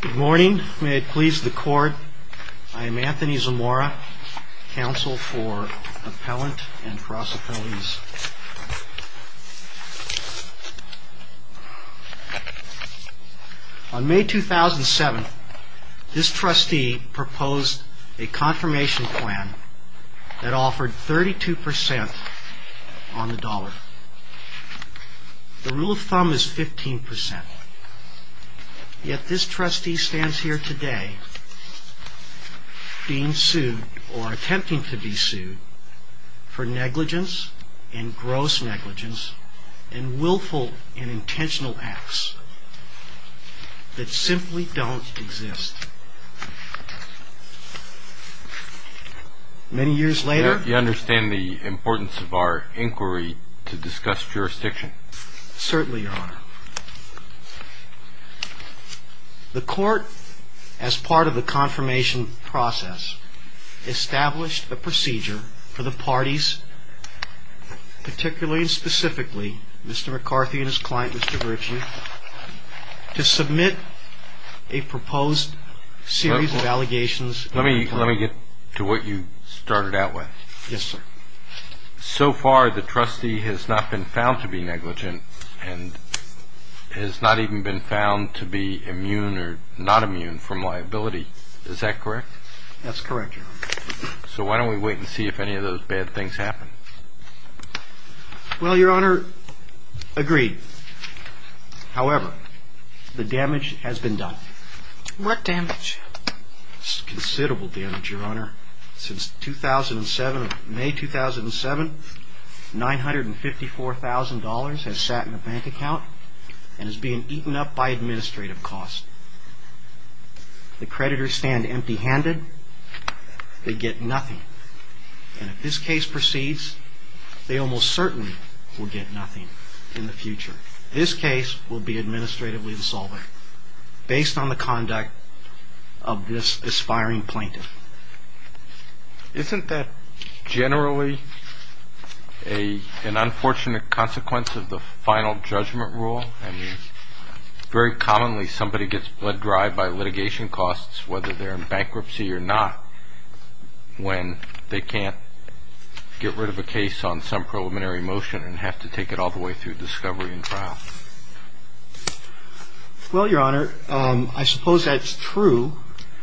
Good morning. May it please the Court, I am Anthony Zamora, Counsel for Appellant and Cross-Appellants. On May 2007, this trustee proposed a confirmation plan that offered 32% on the dollar. The rule of thumb is 15%. Yet this trustee stands here today being sued or attempting to be sued for negligence and gross negligence in willful and intentional acts that simply don't exist. Many years later... Do you understand the importance of our inquiry to discuss jurisdiction? The Court, as part of the confirmation process, established a procedure for the parties, particularly and specifically Mr. McCarthy and his client, Mr. Virtue, to submit a proposed series of allegations... Mr. McCarthy has not even been found to be immune or not immune from liability. Is that correct? That's correct, Your Honor. So why don't we wait and see if any of those bad things happen? Well, Your Honor, agreed. However, the damage has been done. What damage? It's considerable damage, Your Honor. Since May 2007, $954,000 has sat in a bank account and is being eaten up by administrative costs. The creditors stand empty-handed. They get nothing. And if this case proceeds, they almost certainly will get nothing in the future. This case will be administratively dissolving based on the conduct of this aspiring plaintiff. Isn't that generally an unfortunate consequence of the final judgment rule? Very commonly, somebody gets bled dry by litigation costs, whether they're in bankruptcy or not, when they can't get rid of a case on some preliminary motion and have to take it all the way through discovery and trial. Well, Your Honor, I suppose that's true.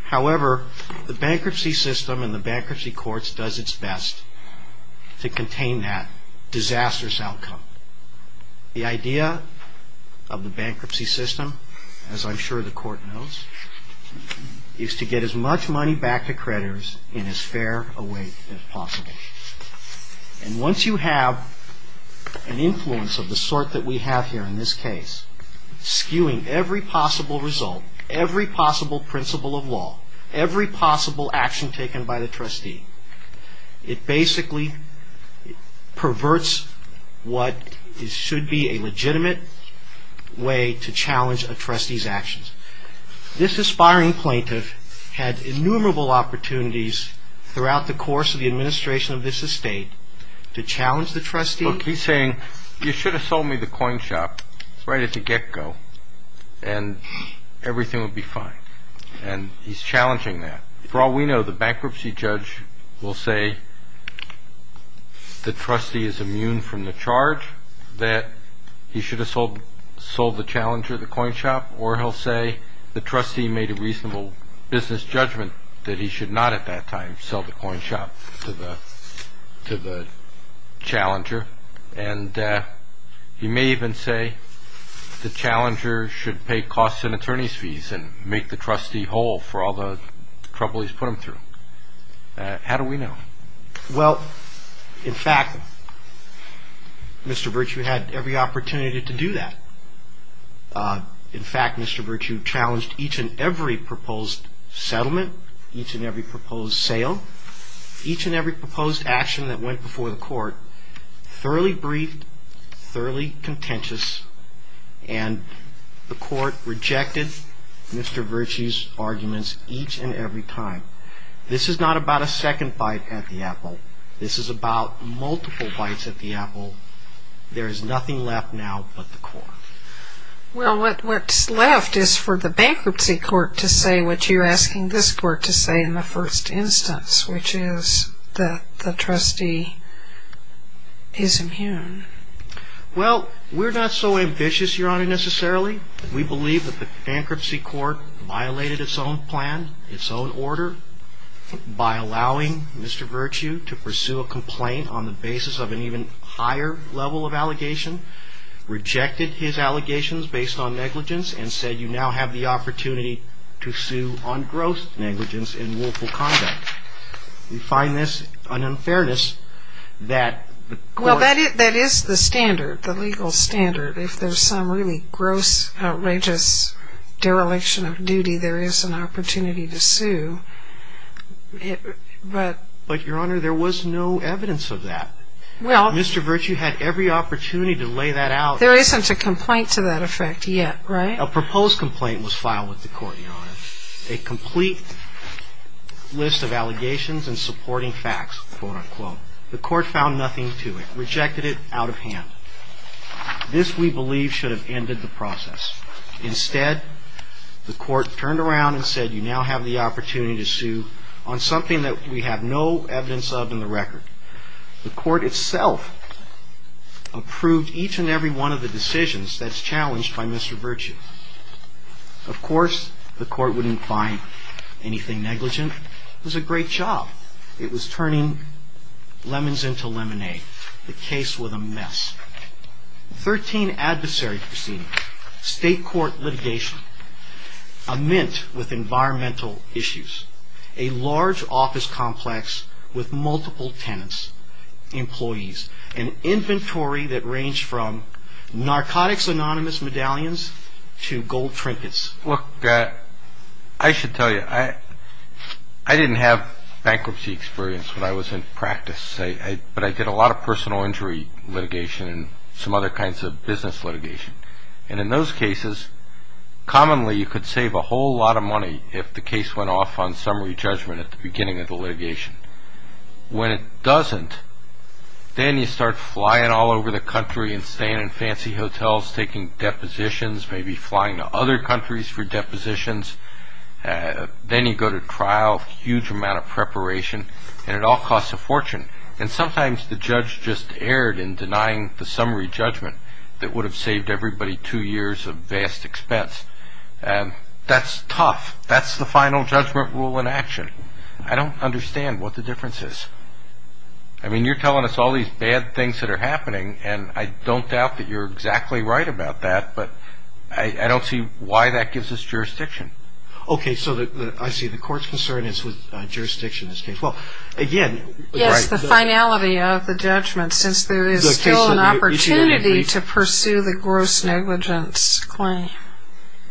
However, the bankruptcy system and the bankruptcy courts does its best to contain that disastrous outcome. The idea of the bankruptcy system, as I'm sure the Court knows, is to get as much money back to creditors in as fair a way as possible. And once you have an influence of the sort that we have here in this case, skewing every possible result, every possible principle of law, every possible action taken by the trustee, it basically perverts what should be a legitimate way to challenge a trustee's actions. This aspiring plaintiff had innumerable opportunities throughout the course of the administration of this estate to challenge the trustee. Look, he's saying, you should have sold me the coin shop right at the get-go and everything would be fine. And he's challenging that. For all we know, the bankruptcy judge will say the trustee is immune from the charge that he should have sold the challenger the coin shop, or he'll say the trustee made a reasonable business judgment that he should not at that time sell the coin shop to the challenger. And he may even say the challenger should pay costs and attorney's fees and make the trustee whole for all the trouble he's put him through. How do we know? Well, in fact, Mr. Virtue had every opportunity to do that. In fact, Mr. Virtue challenged each and every proposed settlement, each and every proposed sale, each and every proposed action that went before the court, thoroughly briefed, thoroughly contentious, and the court rejected Mr. Virtue's arguments each and every time. This is not about a second bite at the apple. This is about multiple bites at the apple. There is nothing left now but the court. Well, what's left is for the bankruptcy court to say what you're asking this court to say in the first instance, which is that the trustee is immune. Well, we're not so ambitious, Your Honor, necessarily. We believe that the bankruptcy court violated its own plan, its own order, by allowing Mr. Virtue to pursue a complaint on the basis of an even higher level of allegation, rejected his allegations based on negligence, and said you now have the opportunity to sue on gross negligence in willful conduct. We find this an unfairness that the court… Well, that is the standard, the legal standard. If there's some really gross, outrageous dereliction of duty, there is an opportunity to sue. But, Your Honor, there was no evidence of that. Mr. Virtue had every opportunity to lay that out. There isn't a complaint to that effect yet, right? A proposed complaint was filed with the court, Your Honor, a complete list of allegations and supporting facts, quote, unquote. The court found nothing to it, rejected it out of hand. This, we believe, should have ended the process. Instead, the court turned around and said you now have the opportunity to sue on something that we have no evidence of in the record. The court itself approved each and every one of the decisions that's challenged by Mr. Virtue. Of course, the court wouldn't find anything negligent. It was a great job. It was turning lemons into lemonade. The case was a mess. Thirteen adversary proceedings, state court litigation, a mint with environmental issues, a large office complex with multiple tenants, employees, an inventory that ranged from narcotics anonymous medallions to gold trinkets. Look, I should tell you, I didn't have bankruptcy experience when I was in practice. But I did a lot of personal injury litigation and some other kinds of business litigation. And in those cases, commonly you could save a whole lot of money if the case went off on summary judgment at the beginning of the litigation. When it doesn't, then you start flying all over the country and staying in fancy hotels, taking depositions, maybe flying to other countries for depositions. Then you go to trial, huge amount of preparation, and it all costs a fortune. And sometimes the judge just erred in denying the summary judgment that would have saved everybody two years of vast expense. That's tough. That's the final judgment rule in action. I don't understand what the difference is. I mean, you're telling us all these bad things that are happening, and I don't doubt that you're exactly right about that, but I don't see why that gives us jurisdiction. Okay, so I see the court's concern is with jurisdiction in this case. Yes, the finality of the judgment, since there is still an opportunity to pursue the gross negligence claim.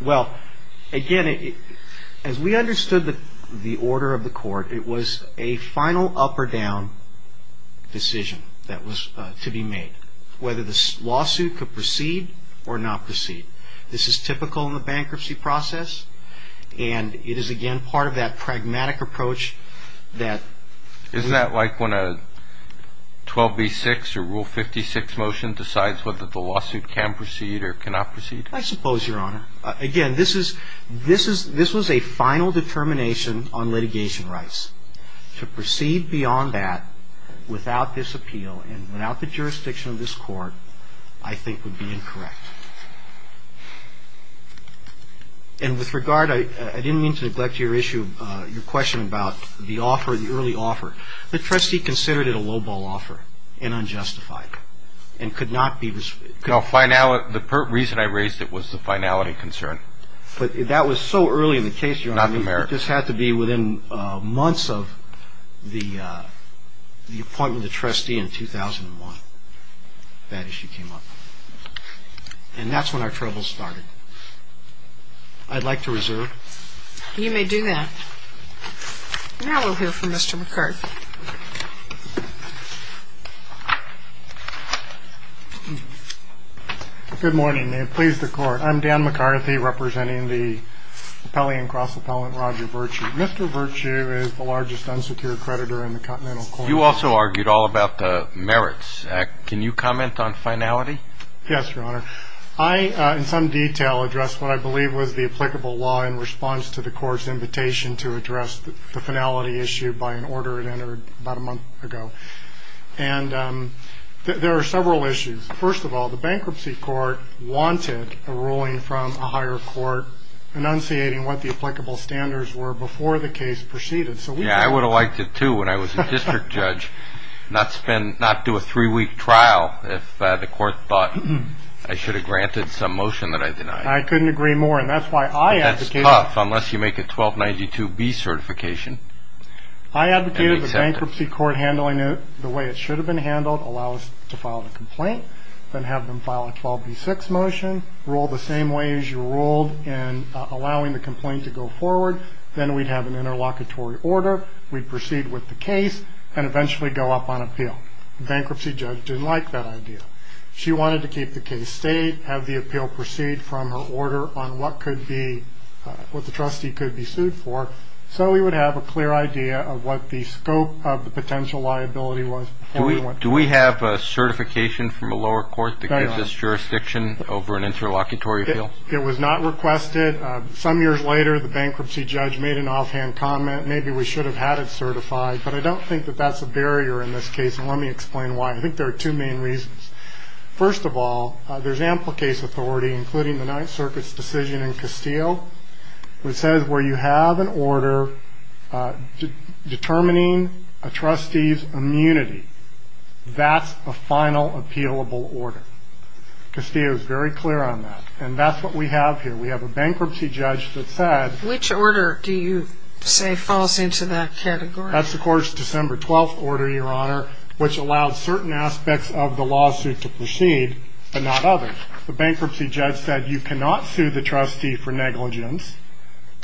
Well, again, as we understood the order of the court, it was a final up or down decision that was to be made, whether the lawsuit could proceed or not proceed. This is typical in the bankruptcy process, and it is, again, part of that pragmatic approach that we have. Isn't that like when a 12b-6 or Rule 56 motion decides whether the lawsuit can proceed or cannot proceed? I suppose, Your Honor. Again, this was a final determination on litigation rights. To proceed beyond that without this appeal and without the jurisdiction of this court, I think would be incorrect. And with regard, I didn't mean to neglect your issue, your question about the offer, the early offer. The trustee considered it a lowball offer and unjustified and could not be. No, the reason I raised it was the finality concern. But that was so early in the case, Your Honor. It just had to be within months of the appointment of the trustee in 2001 that issue came up. And that's when our troubles started. I'd like to reserve. You may do that. Now we'll hear from Mr. McCarthy. Good morning and please the Court. I'm Dan McCarthy representing the appellee and cross-appellant Roger Virtue. Mr. Virtue is the largest unsecured creditor in the Continental Court. You also argued all about the merits. Can you comment on finality? Yes, Your Honor. I, in some detail, addressed what I believe was the applicable law in response to the court's invitation to address the finality issue by an order it entered about a month ago. And there are several issues. First of all, the bankruptcy court wanted a ruling from a higher court enunciating what the applicable standards were before the case proceeded. Yeah, I would have liked it too when I was a district judge. Not do a three-week trial if the court thought I should have granted some motion that I denied. I couldn't agree more. That's tough unless you make a 1292B certification. I advocated the bankruptcy court handling it the way it should have been handled, allow us to file the complaint, then have them file a 12B6 motion, rule the same way as you ruled in allowing the complaint to go forward. Then we'd have an interlocutory order. We'd proceed with the case and eventually go up on appeal. The bankruptcy judge didn't like that idea. She wanted to keep the case state, have the appeal proceed from her order on what the trustee could be sued for, so we would have a clear idea of what the scope of the potential liability was. Do we have a certification from a lower court to give this jurisdiction over an interlocutory appeal? It was not requested. Some years later, the bankruptcy judge made an offhand comment, maybe we should have had it certified, but I don't think that that's a barrier in this case, and let me explain why. I think there are two main reasons. First of all, there's ample case authority, including the Ninth Circuit's decision in Castillo, which says where you have an order determining a trustee's immunity, that's a final appealable order. Castillo is very clear on that, and that's what we have here. We have a bankruptcy judge that said... Which order do you say falls into that category? That's, of course, December 12th order, Your Honor, which allows certain aspects of the lawsuit to proceed, but not others. The bankruptcy judge said you cannot sue the trustee for negligence,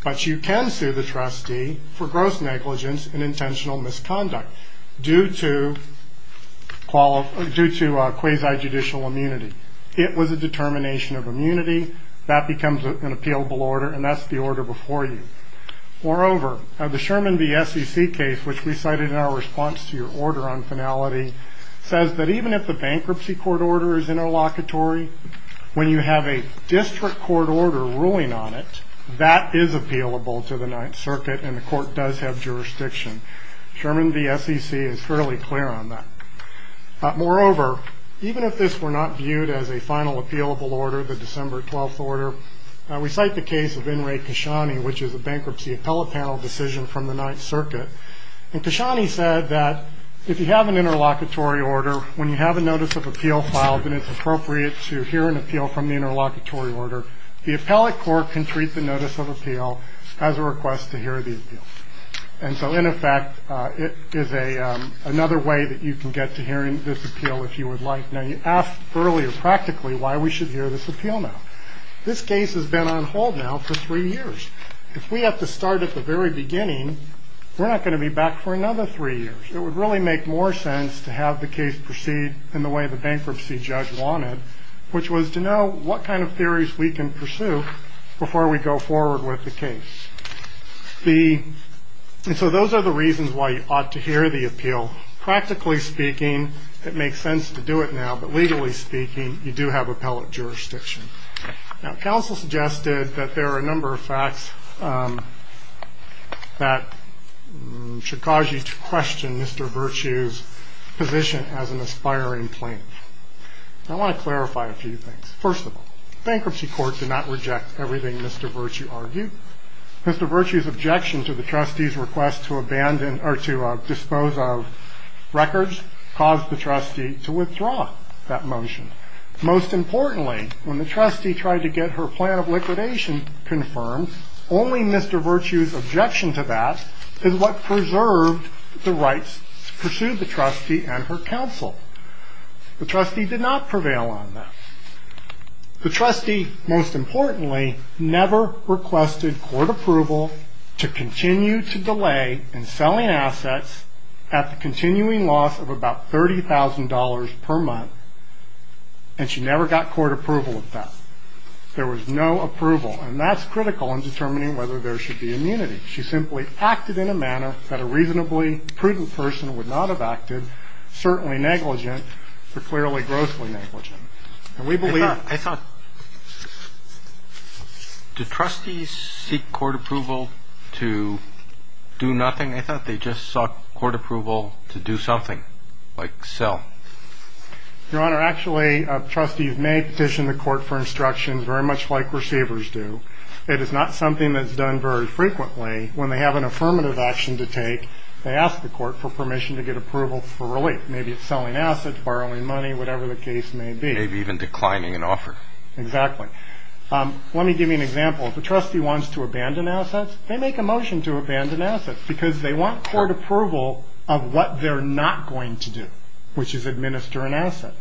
but you can sue the trustee for gross negligence and intentional misconduct due to quasi-judicial immunity. It was a determination of immunity. That becomes an appealable order, and that's the order before you. Moreover, the Sherman v. SEC case, which we cited in our response to your order on finality, says that even if the bankruptcy court order is interlocutory, when you have a district court order ruling on it, that is appealable to the Ninth Circuit, and the court does have jurisdiction. Sherman v. SEC is fairly clear on that. Moreover, even if this were not viewed as a final appealable order, the December 12th order, we cite the case of N. Ray Kashani, which is a bankruptcy appellate panel decision from the Ninth Circuit. And Kashani said that if you have an interlocutory order, when you have a notice of appeal filed and it's appropriate to hear an appeal from the interlocutory order, the appellate court can treat the notice of appeal as a request to hear the appeal. And so, in effect, it is another way that you can get to hearing this appeal if you would like. Now, you asked earlier practically why we should hear this appeal now. This case has been on hold now for three years. If we have to start at the very beginning, we're not going to be back for another three years. It would really make more sense to have the case proceed in the way the bankruptcy judge wanted, which was to know what kind of theories we can pursue before we go forward with the case. And so those are the reasons why you ought to hear the appeal. Practically speaking, it makes sense to do it now, but legally speaking, you do have appellate jurisdiction. Now, counsel suggested that there are a number of facts that should cause you to question Mr. Virtue's position as an aspiring plaintiff. I want to clarify a few things. First of all, bankruptcy court did not reject everything Mr. Virtue argued. Mr. Virtue's objection to the trustee's request to abandon or to dispose of records caused the trustee to withdraw that motion. Most importantly, when the trustee tried to get her plan of liquidation confirmed, only Mr. Virtue's objection to that is what preserved the rights to pursue the trustee and her counsel. The trustee did not prevail on that. The trustee, most importantly, never requested court approval to continue to delay in selling assets at the continuing loss of about $30,000 per month, and she never got court approval of that. There was no approval, and that's critical in determining whether there should be immunity. She simply acted in a manner that a reasonably prudent person would not have acted, certainly negligent, but clearly grossly negligent. And we believe... I thought, I thought, do trustees seek court approval to do nothing? I thought they just sought court approval to do something, like sell. Your Honor, actually, trustees may petition the court for instructions very much like receivers do. It is not something that's done very frequently. When they have an affirmative action to take, they ask the court for permission to get approval for relief. Maybe it's selling assets, borrowing money, whatever the case may be. Maybe even declining an offer. Exactly. Let me give you an example. If a trustee wants to abandon assets, they make a motion to abandon assets because they want court approval of what they're not going to do, which is administer an asset.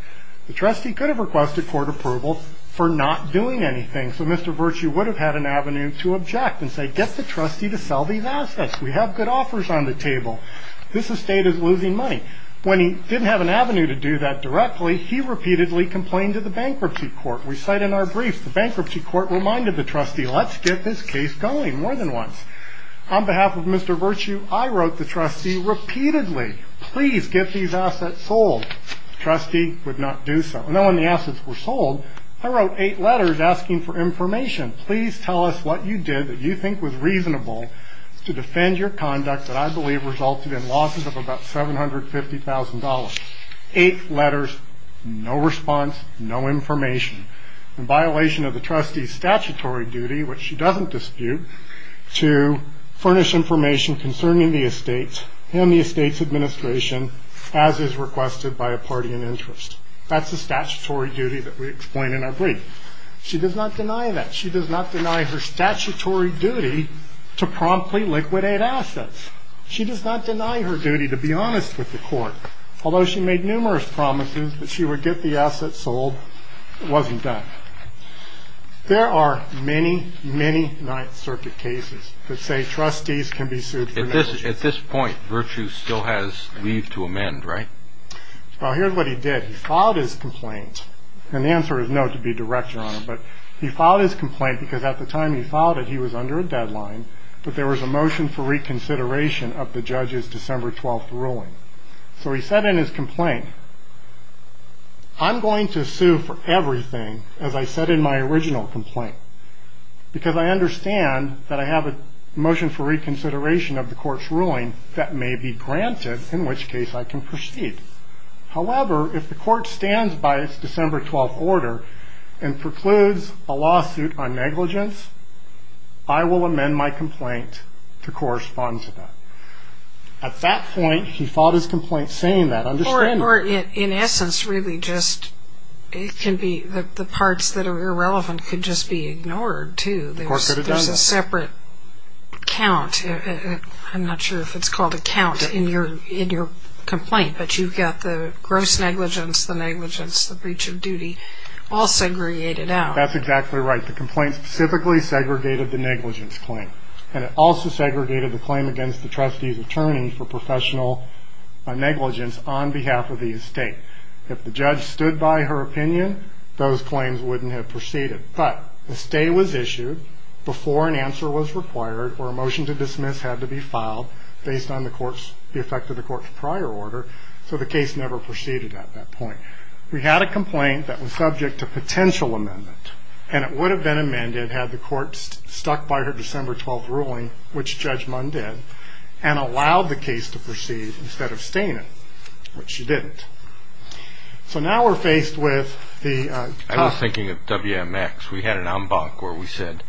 The trustee could have requested court approval for not doing anything. So Mr. Virtue would have had an avenue to object and say, get the trustee to sell these assets. We have good offers on the table. This estate is losing money. When he didn't have an avenue to do that directly, he repeatedly complained to the bankruptcy court. We cite in our briefs, the bankruptcy court reminded the trustee, let's get this case going more than once. On behalf of Mr. Virtue, I wrote the trustee repeatedly, please get these assets sold. The trustee would not do so. And then when the assets were sold, I wrote eight letters asking for information. Please tell us what you did that you think was reasonable to defend your conduct that I believe resulted in losses of about $750,000. Eight letters, no response, no information. In violation of the trustee's statutory duty, which she doesn't dispute, to furnish information concerning the estate and the estate's administration as is requested by a party in interest. That's the statutory duty that we explain in our brief. She does not deny that. She does not deny her statutory duty to promptly liquidate assets. She does not deny her duty to be honest with the court. Although she made numerous promises that she would get the assets sold, it wasn't done. There are many, many Ninth Circuit cases that say trustees can be sued for negligence. At this point, Virtue still has leave to amend, right? Well, here's what he did. He filed his complaint. And the answer is no, to be direct, Your Honor. But he filed his complaint because at the time he filed it, he was under a deadline, but there was a motion for reconsideration of the judge's December 12th ruling. So he said in his complaint, I'm going to sue for everything, as I said in my original complaint, because I understand that I have a motion for reconsideration of the court's ruling that may be granted, in which case I can proceed. However, if the court stands by its December 12th order and precludes a lawsuit on negligence, I will amend my complaint to correspond to that. At that point, he filed his complaint saying that. Or, in essence, really just it can be the parts that are irrelevant could just be ignored, too. There's a separate count. I'm not sure if it's called a count in your complaint, but you've got the gross negligence, the negligence, the breach of duty all segregated out. That's exactly right. The complaint specifically segregated the negligence claim, and it also segregated the claim against the trustee's attorney for professional negligence on behalf of the estate. If the judge stood by her opinion, those claims wouldn't have proceeded. But a stay was issued before an answer was required or a motion to dismiss had to be filed based on the effect of the court's prior order, so the case never proceeded at that point. We had a complaint that was subject to potential amendment, and it would have been amended had the court stuck by her December 12th ruling, which Judge Munn did, and allowed the case to proceed instead of staying it, which she didn't. So now we're faced with the top. I was thinking of WMX. We had an en banc where we said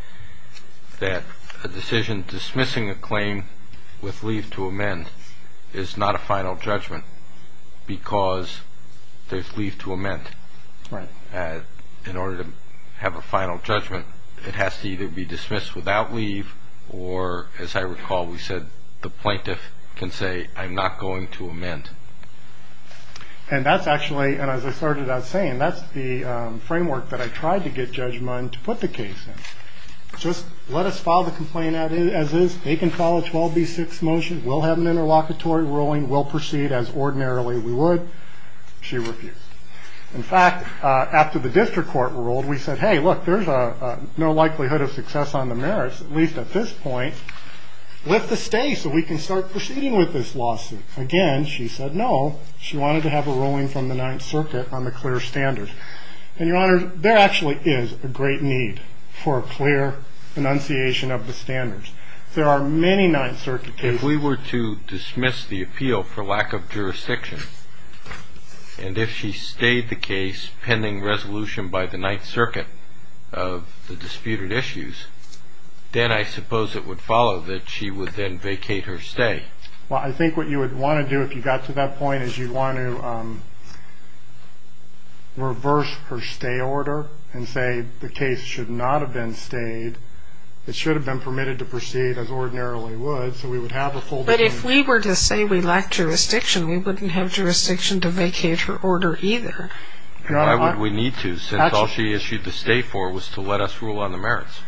that a decision dismissing a claim with leave to amend is not a final judgment because there's leave to amend. Right. In order to have a final judgment, it has to either be dismissed without leave or, as I recall, we said the plaintiff can say, I'm not going to amend. And that's actually, and as I started out saying, that's the framework that I tried to get Judge Munn to put the case in. Just let us file the complaint as is. They can file a 12B6 motion. We'll have an interlocutory ruling. We'll proceed as ordinarily we would. She refused. In fact, after the district court ruled, we said, hey, look, there's no likelihood of success on the merits, at least at this point, with the stay so we can start proceeding with this lawsuit. Again, she said no. She wanted to have a ruling from the Ninth Circuit on the clear standards. And, Your Honor, there actually is a great need for a clear enunciation of the standards. There are many Ninth Circuit cases. If we were to dismiss the appeal for lack of jurisdiction, and if she stayed the case pending resolution by the Ninth Circuit of the disputed issues, then I suppose it would follow that she would then vacate her stay. Well, I think what you would want to do if you got to that point is you'd want to reverse her stay order and say the case should not have been stayed. It should have been permitted to proceed as ordinarily would. So we would have a full decision. But if we were to say we lack jurisdiction, we wouldn't have jurisdiction to vacate her order either. Why would we need to since all she issued the stay for was to let us rule on the merits?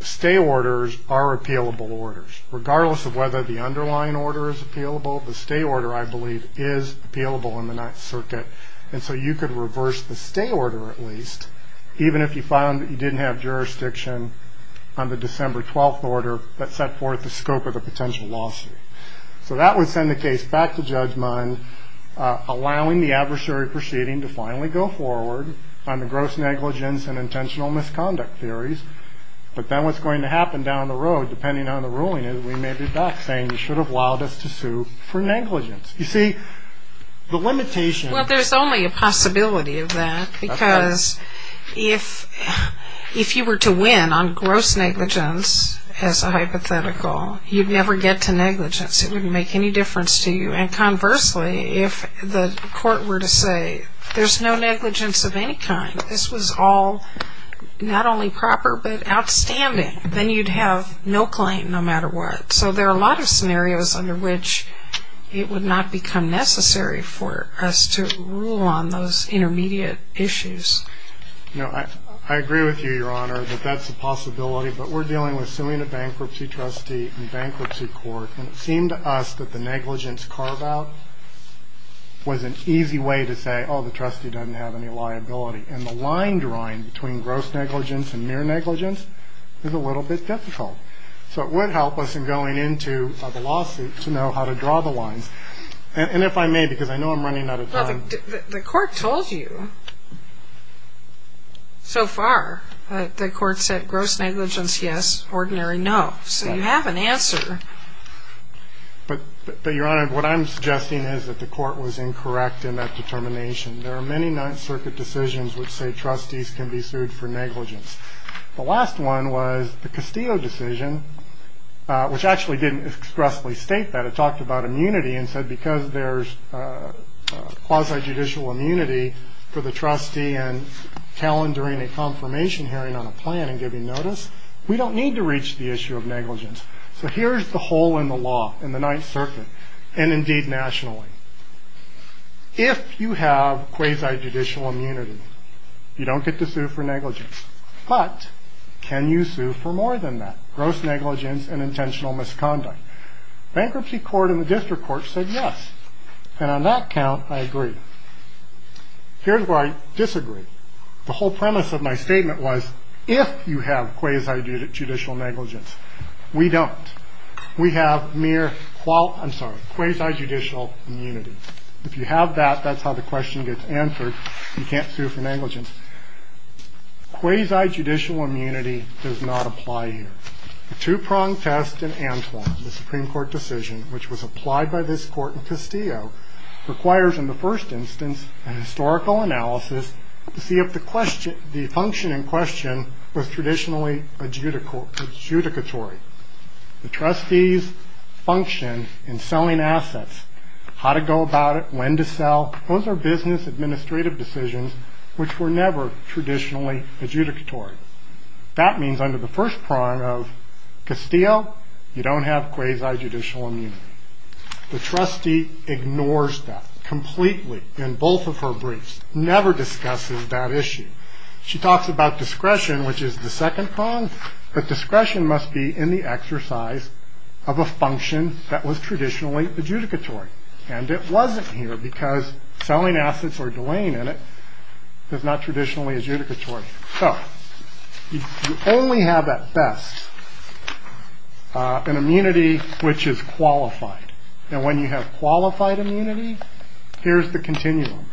Stay orders are appealable orders. Regardless of whether the underlying order is appealable, the stay order, I believe, is appealable in the Ninth Circuit. Even if you found that you didn't have jurisdiction on the December 12th order that set forth the scope of the potential lawsuit. So that would send the case back to judgment, allowing the adversary proceeding to finally go forward on the gross negligence and intentional misconduct theories. But then what's going to happen down the road, depending on the ruling, is we may be back saying you should have allowed us to sue for negligence. You see, the limitation. Well, there's only a possibility of that because if you were to win on gross negligence as a hypothetical, you'd never get to negligence. It wouldn't make any difference to you. And conversely, if the court were to say there's no negligence of any kind, this was all not only proper but outstanding, then you'd have no claim no matter what. So there are a lot of scenarios under which it would not become necessary for us to rule on those intermediate issues. No, I agree with you, Your Honor, that that's a possibility. But we're dealing with suing a bankruptcy trustee in bankruptcy court. And it seemed to us that the negligence carve-out was an easy way to say, oh, the trustee doesn't have any liability. And the line drawing between gross negligence and mere negligence is a little bit difficult. So it would help us in going into the lawsuit to know how to draw the lines. And if I may, because I know I'm running out of time. Well, the court told you so far. The court said gross negligence, yes, ordinary, no. So you have an answer. But, Your Honor, what I'm suggesting is that the court was incorrect in that determination. There are many Ninth Circuit decisions which say trustees can be sued for negligence. The last one was the Castillo decision, which actually didn't expressly state that. It talked about immunity and said because there's quasi-judicial immunity for the trustee and calendaring a confirmation hearing on a plan and giving notice, we don't need to reach the issue of negligence. So here's the hole in the law in the Ninth Circuit, and indeed nationally. If you have quasi-judicial immunity, you don't get to sue for negligence. But can you sue for more than that, gross negligence and intentional misconduct? Bankruptcy court in the district court said yes. And on that count, I agree. Here's where I disagree. The whole premise of my statement was if you have quasi-judicial negligence, we don't. We have mere quasi-judicial immunity. If you have that, that's how the question gets answered. You can't sue for negligence. Quasi-judicial immunity does not apply here. The two-pronged test in Antoine, the Supreme Court decision, which was applied by this court in Castillo, requires in the first instance a historical analysis to see if the function in question was traditionally adjudicatory. The trustees' function in selling assets, how to go about it, when to sell, those are business administrative decisions which were never traditionally adjudicatory. That means under the first prong of Castillo, you don't have quasi-judicial immunity. The trustee ignores that completely in both of her briefs, never discusses that issue. She talks about discretion, which is the second prong, but discretion must be in the exercise of a function that was traditionally adjudicatory. And it wasn't here because selling assets or delaying in it is not traditionally adjudicatory. So you only have at best an immunity which is qualified. And when you have qualified immunity, here's the continuum.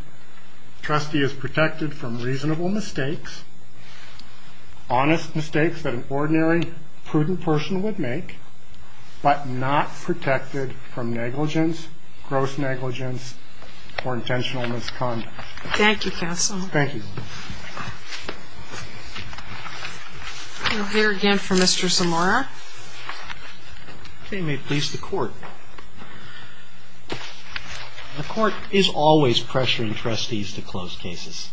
The trustee is protected from reasonable mistakes, honest mistakes that an ordinary prudent person would make, but not protected from negligence, gross negligence, or intentional misconduct. Thank you, counsel. Thank you. We'll hear again from Mr. Zamora. Okay. May it please the Court. The Court is always pressuring trustees to close cases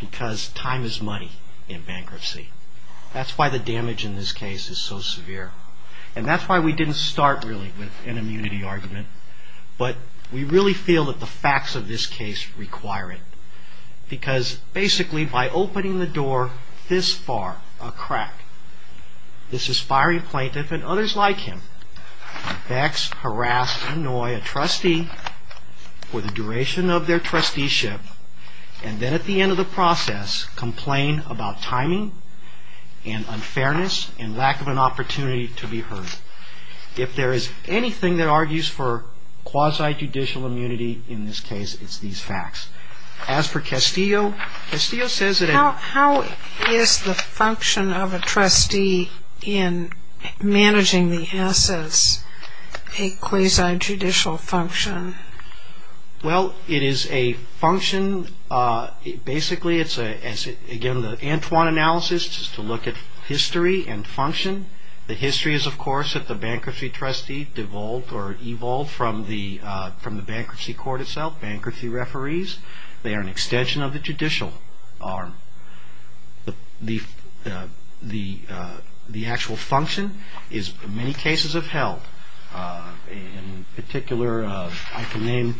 because time is money in bankruptcy. That's why the damage in this case is so severe. And that's why we didn't start really with an immunity argument, but we really feel that the facts of this case require it because basically by opening the door this far, a crack, this is firing a plaintiff and others like him. The facts harass and annoy a trustee for the duration of their trusteeship and then at the end of the process, complain about timing and unfairness and lack of an opportunity to be heard. If there is anything that argues for quasi-judicial immunity in this case, it's these facts. As for Castillo, Castillo says that it — What is the function of a trustee in managing the assets, a quasi-judicial function? Well, it is a function. Basically, it's, again, the Antoine analysis is to look at history and function. The history is, of course, that the bankruptcy trustee devolved or evolved from the bankruptcy court itself, bankruptcy referees. They are an extension of the judicial arm. The actual function, as many cases have held, in particular, I can name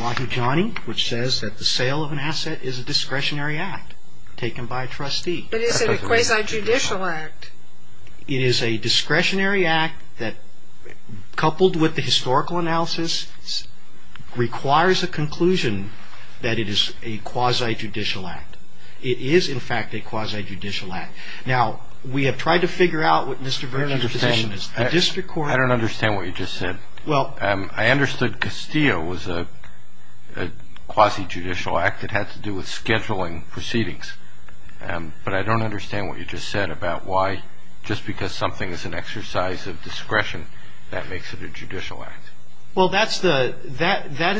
Lodge Johnny, which says that the sale of an asset is a discretionary act taken by a trustee. But is it a quasi-judicial act? It is a discretionary act that, coupled with the historical analysis, requires a conclusion that it is a quasi-judicial act. It is, in fact, a quasi-judicial act. Now, we have tried to figure out what Mr. Vernon's position is. I don't understand what you just said. I understood Castillo was a quasi-judicial act. It had to do with scheduling proceedings. But I don't understand what you just said about why, just because something is an exercise of discretion, that makes it a judicial act. Well, that is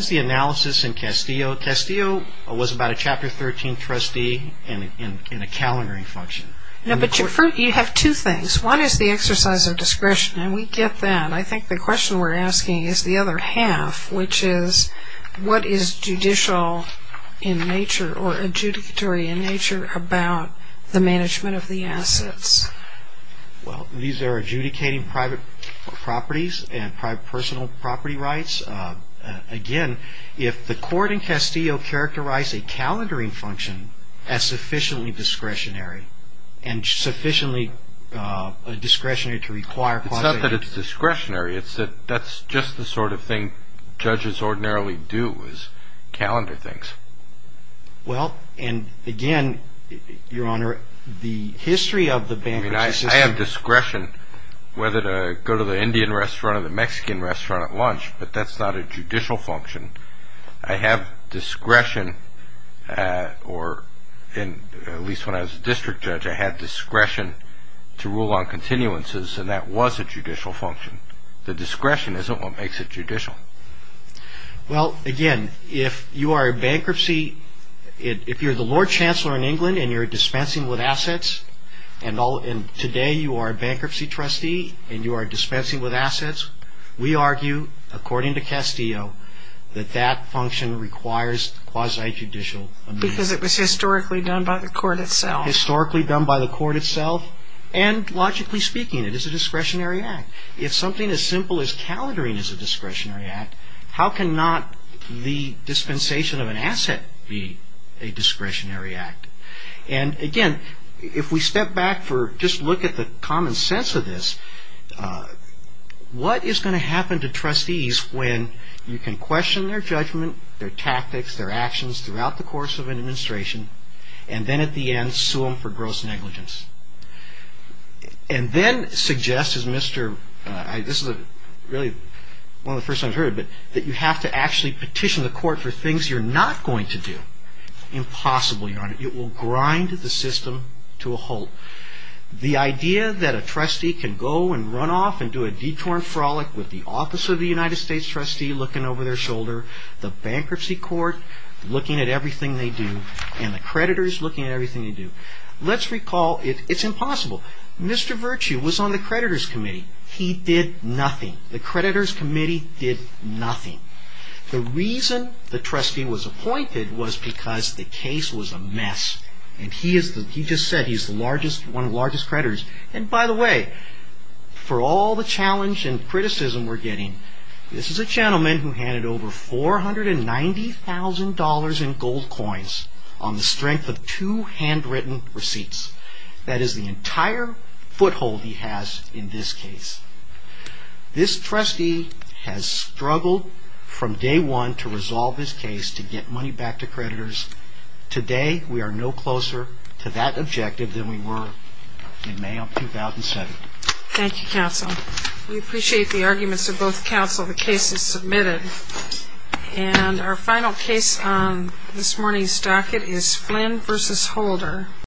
the analysis in Castillo. Castillo was about a Chapter 13 trustee in a calendaring function. No, but you have two things. One is the exercise of discretion, and we get that. I think the question we're asking is the other half, which is what is judicial in nature or adjudicatory in nature about the management of the assets? Well, these are adjudicating private properties and private personal property rights. Again, if the court in Castillo characterized a calendaring function as sufficiently discretionary and sufficiently discretionary to require quasi-judicial acts. It's not that it's discretionary. It's that that's just the sort of thing judges ordinarily do, is calendar things. Well, and again, Your Honor, the history of the bankruptcy system. I mean, I have discretion whether to go to the Indian restaurant or the Mexican restaurant at lunch, but that's not a judicial function. I have discretion, or at least when I was a district judge, I had discretion to rule on continuances, and that was a judicial function. The discretion isn't what makes it judicial. Well, again, if you are a bankruptcy, if you're the Lord Chancellor in England and you're dispensing with assets, and today you are a bankruptcy trustee and you are dispensing with assets, we argue, according to Castillo, that that function requires quasi-judicial amendments. Because it was historically done by the court itself. Historically done by the court itself, and logically speaking, it is a discretionary act. If something as simple as calendaring is a discretionary act, how can not the dispensation of an asset be a discretionary act? And again, if we step back for just look at the common sense of this, what is going to happen to trustees when you can question their judgment, their tactics, their actions throughout the course of an administration, and then at the end sue them for gross negligence? And then suggest, as Mr., this is really one of the first times I've heard it, that you have to actually petition the court for things you're not going to do. Impossible, Your Honor. It will grind the system to a halt. The idea that a trustee can go and run off and do a detour and frolic with the office of the United States trustee looking over their shoulder, the bankruptcy court looking at everything they do, and the creditors looking at everything they do. Let's recall, it's impossible. Mr. Virtue was on the creditors committee. He did nothing. The creditors committee did nothing. The reason the trustee was appointed was because the case was a mess. And he just said he's one of the largest creditors. And by the way, for all the challenge and criticism we're getting, this is a gentleman who handed over $490,000 in gold coins on the strength of two handwritten receipts. That is the entire foothold he has in this case. This trustee has struggled from day one to resolve his case to get money back to creditors. Today we are no closer to that objective than we were in May of 2007. Thank you, counsel. We appreciate the arguments of both counsel. The case is submitted. And our final case on this morning's docket is Flynn v. Holder.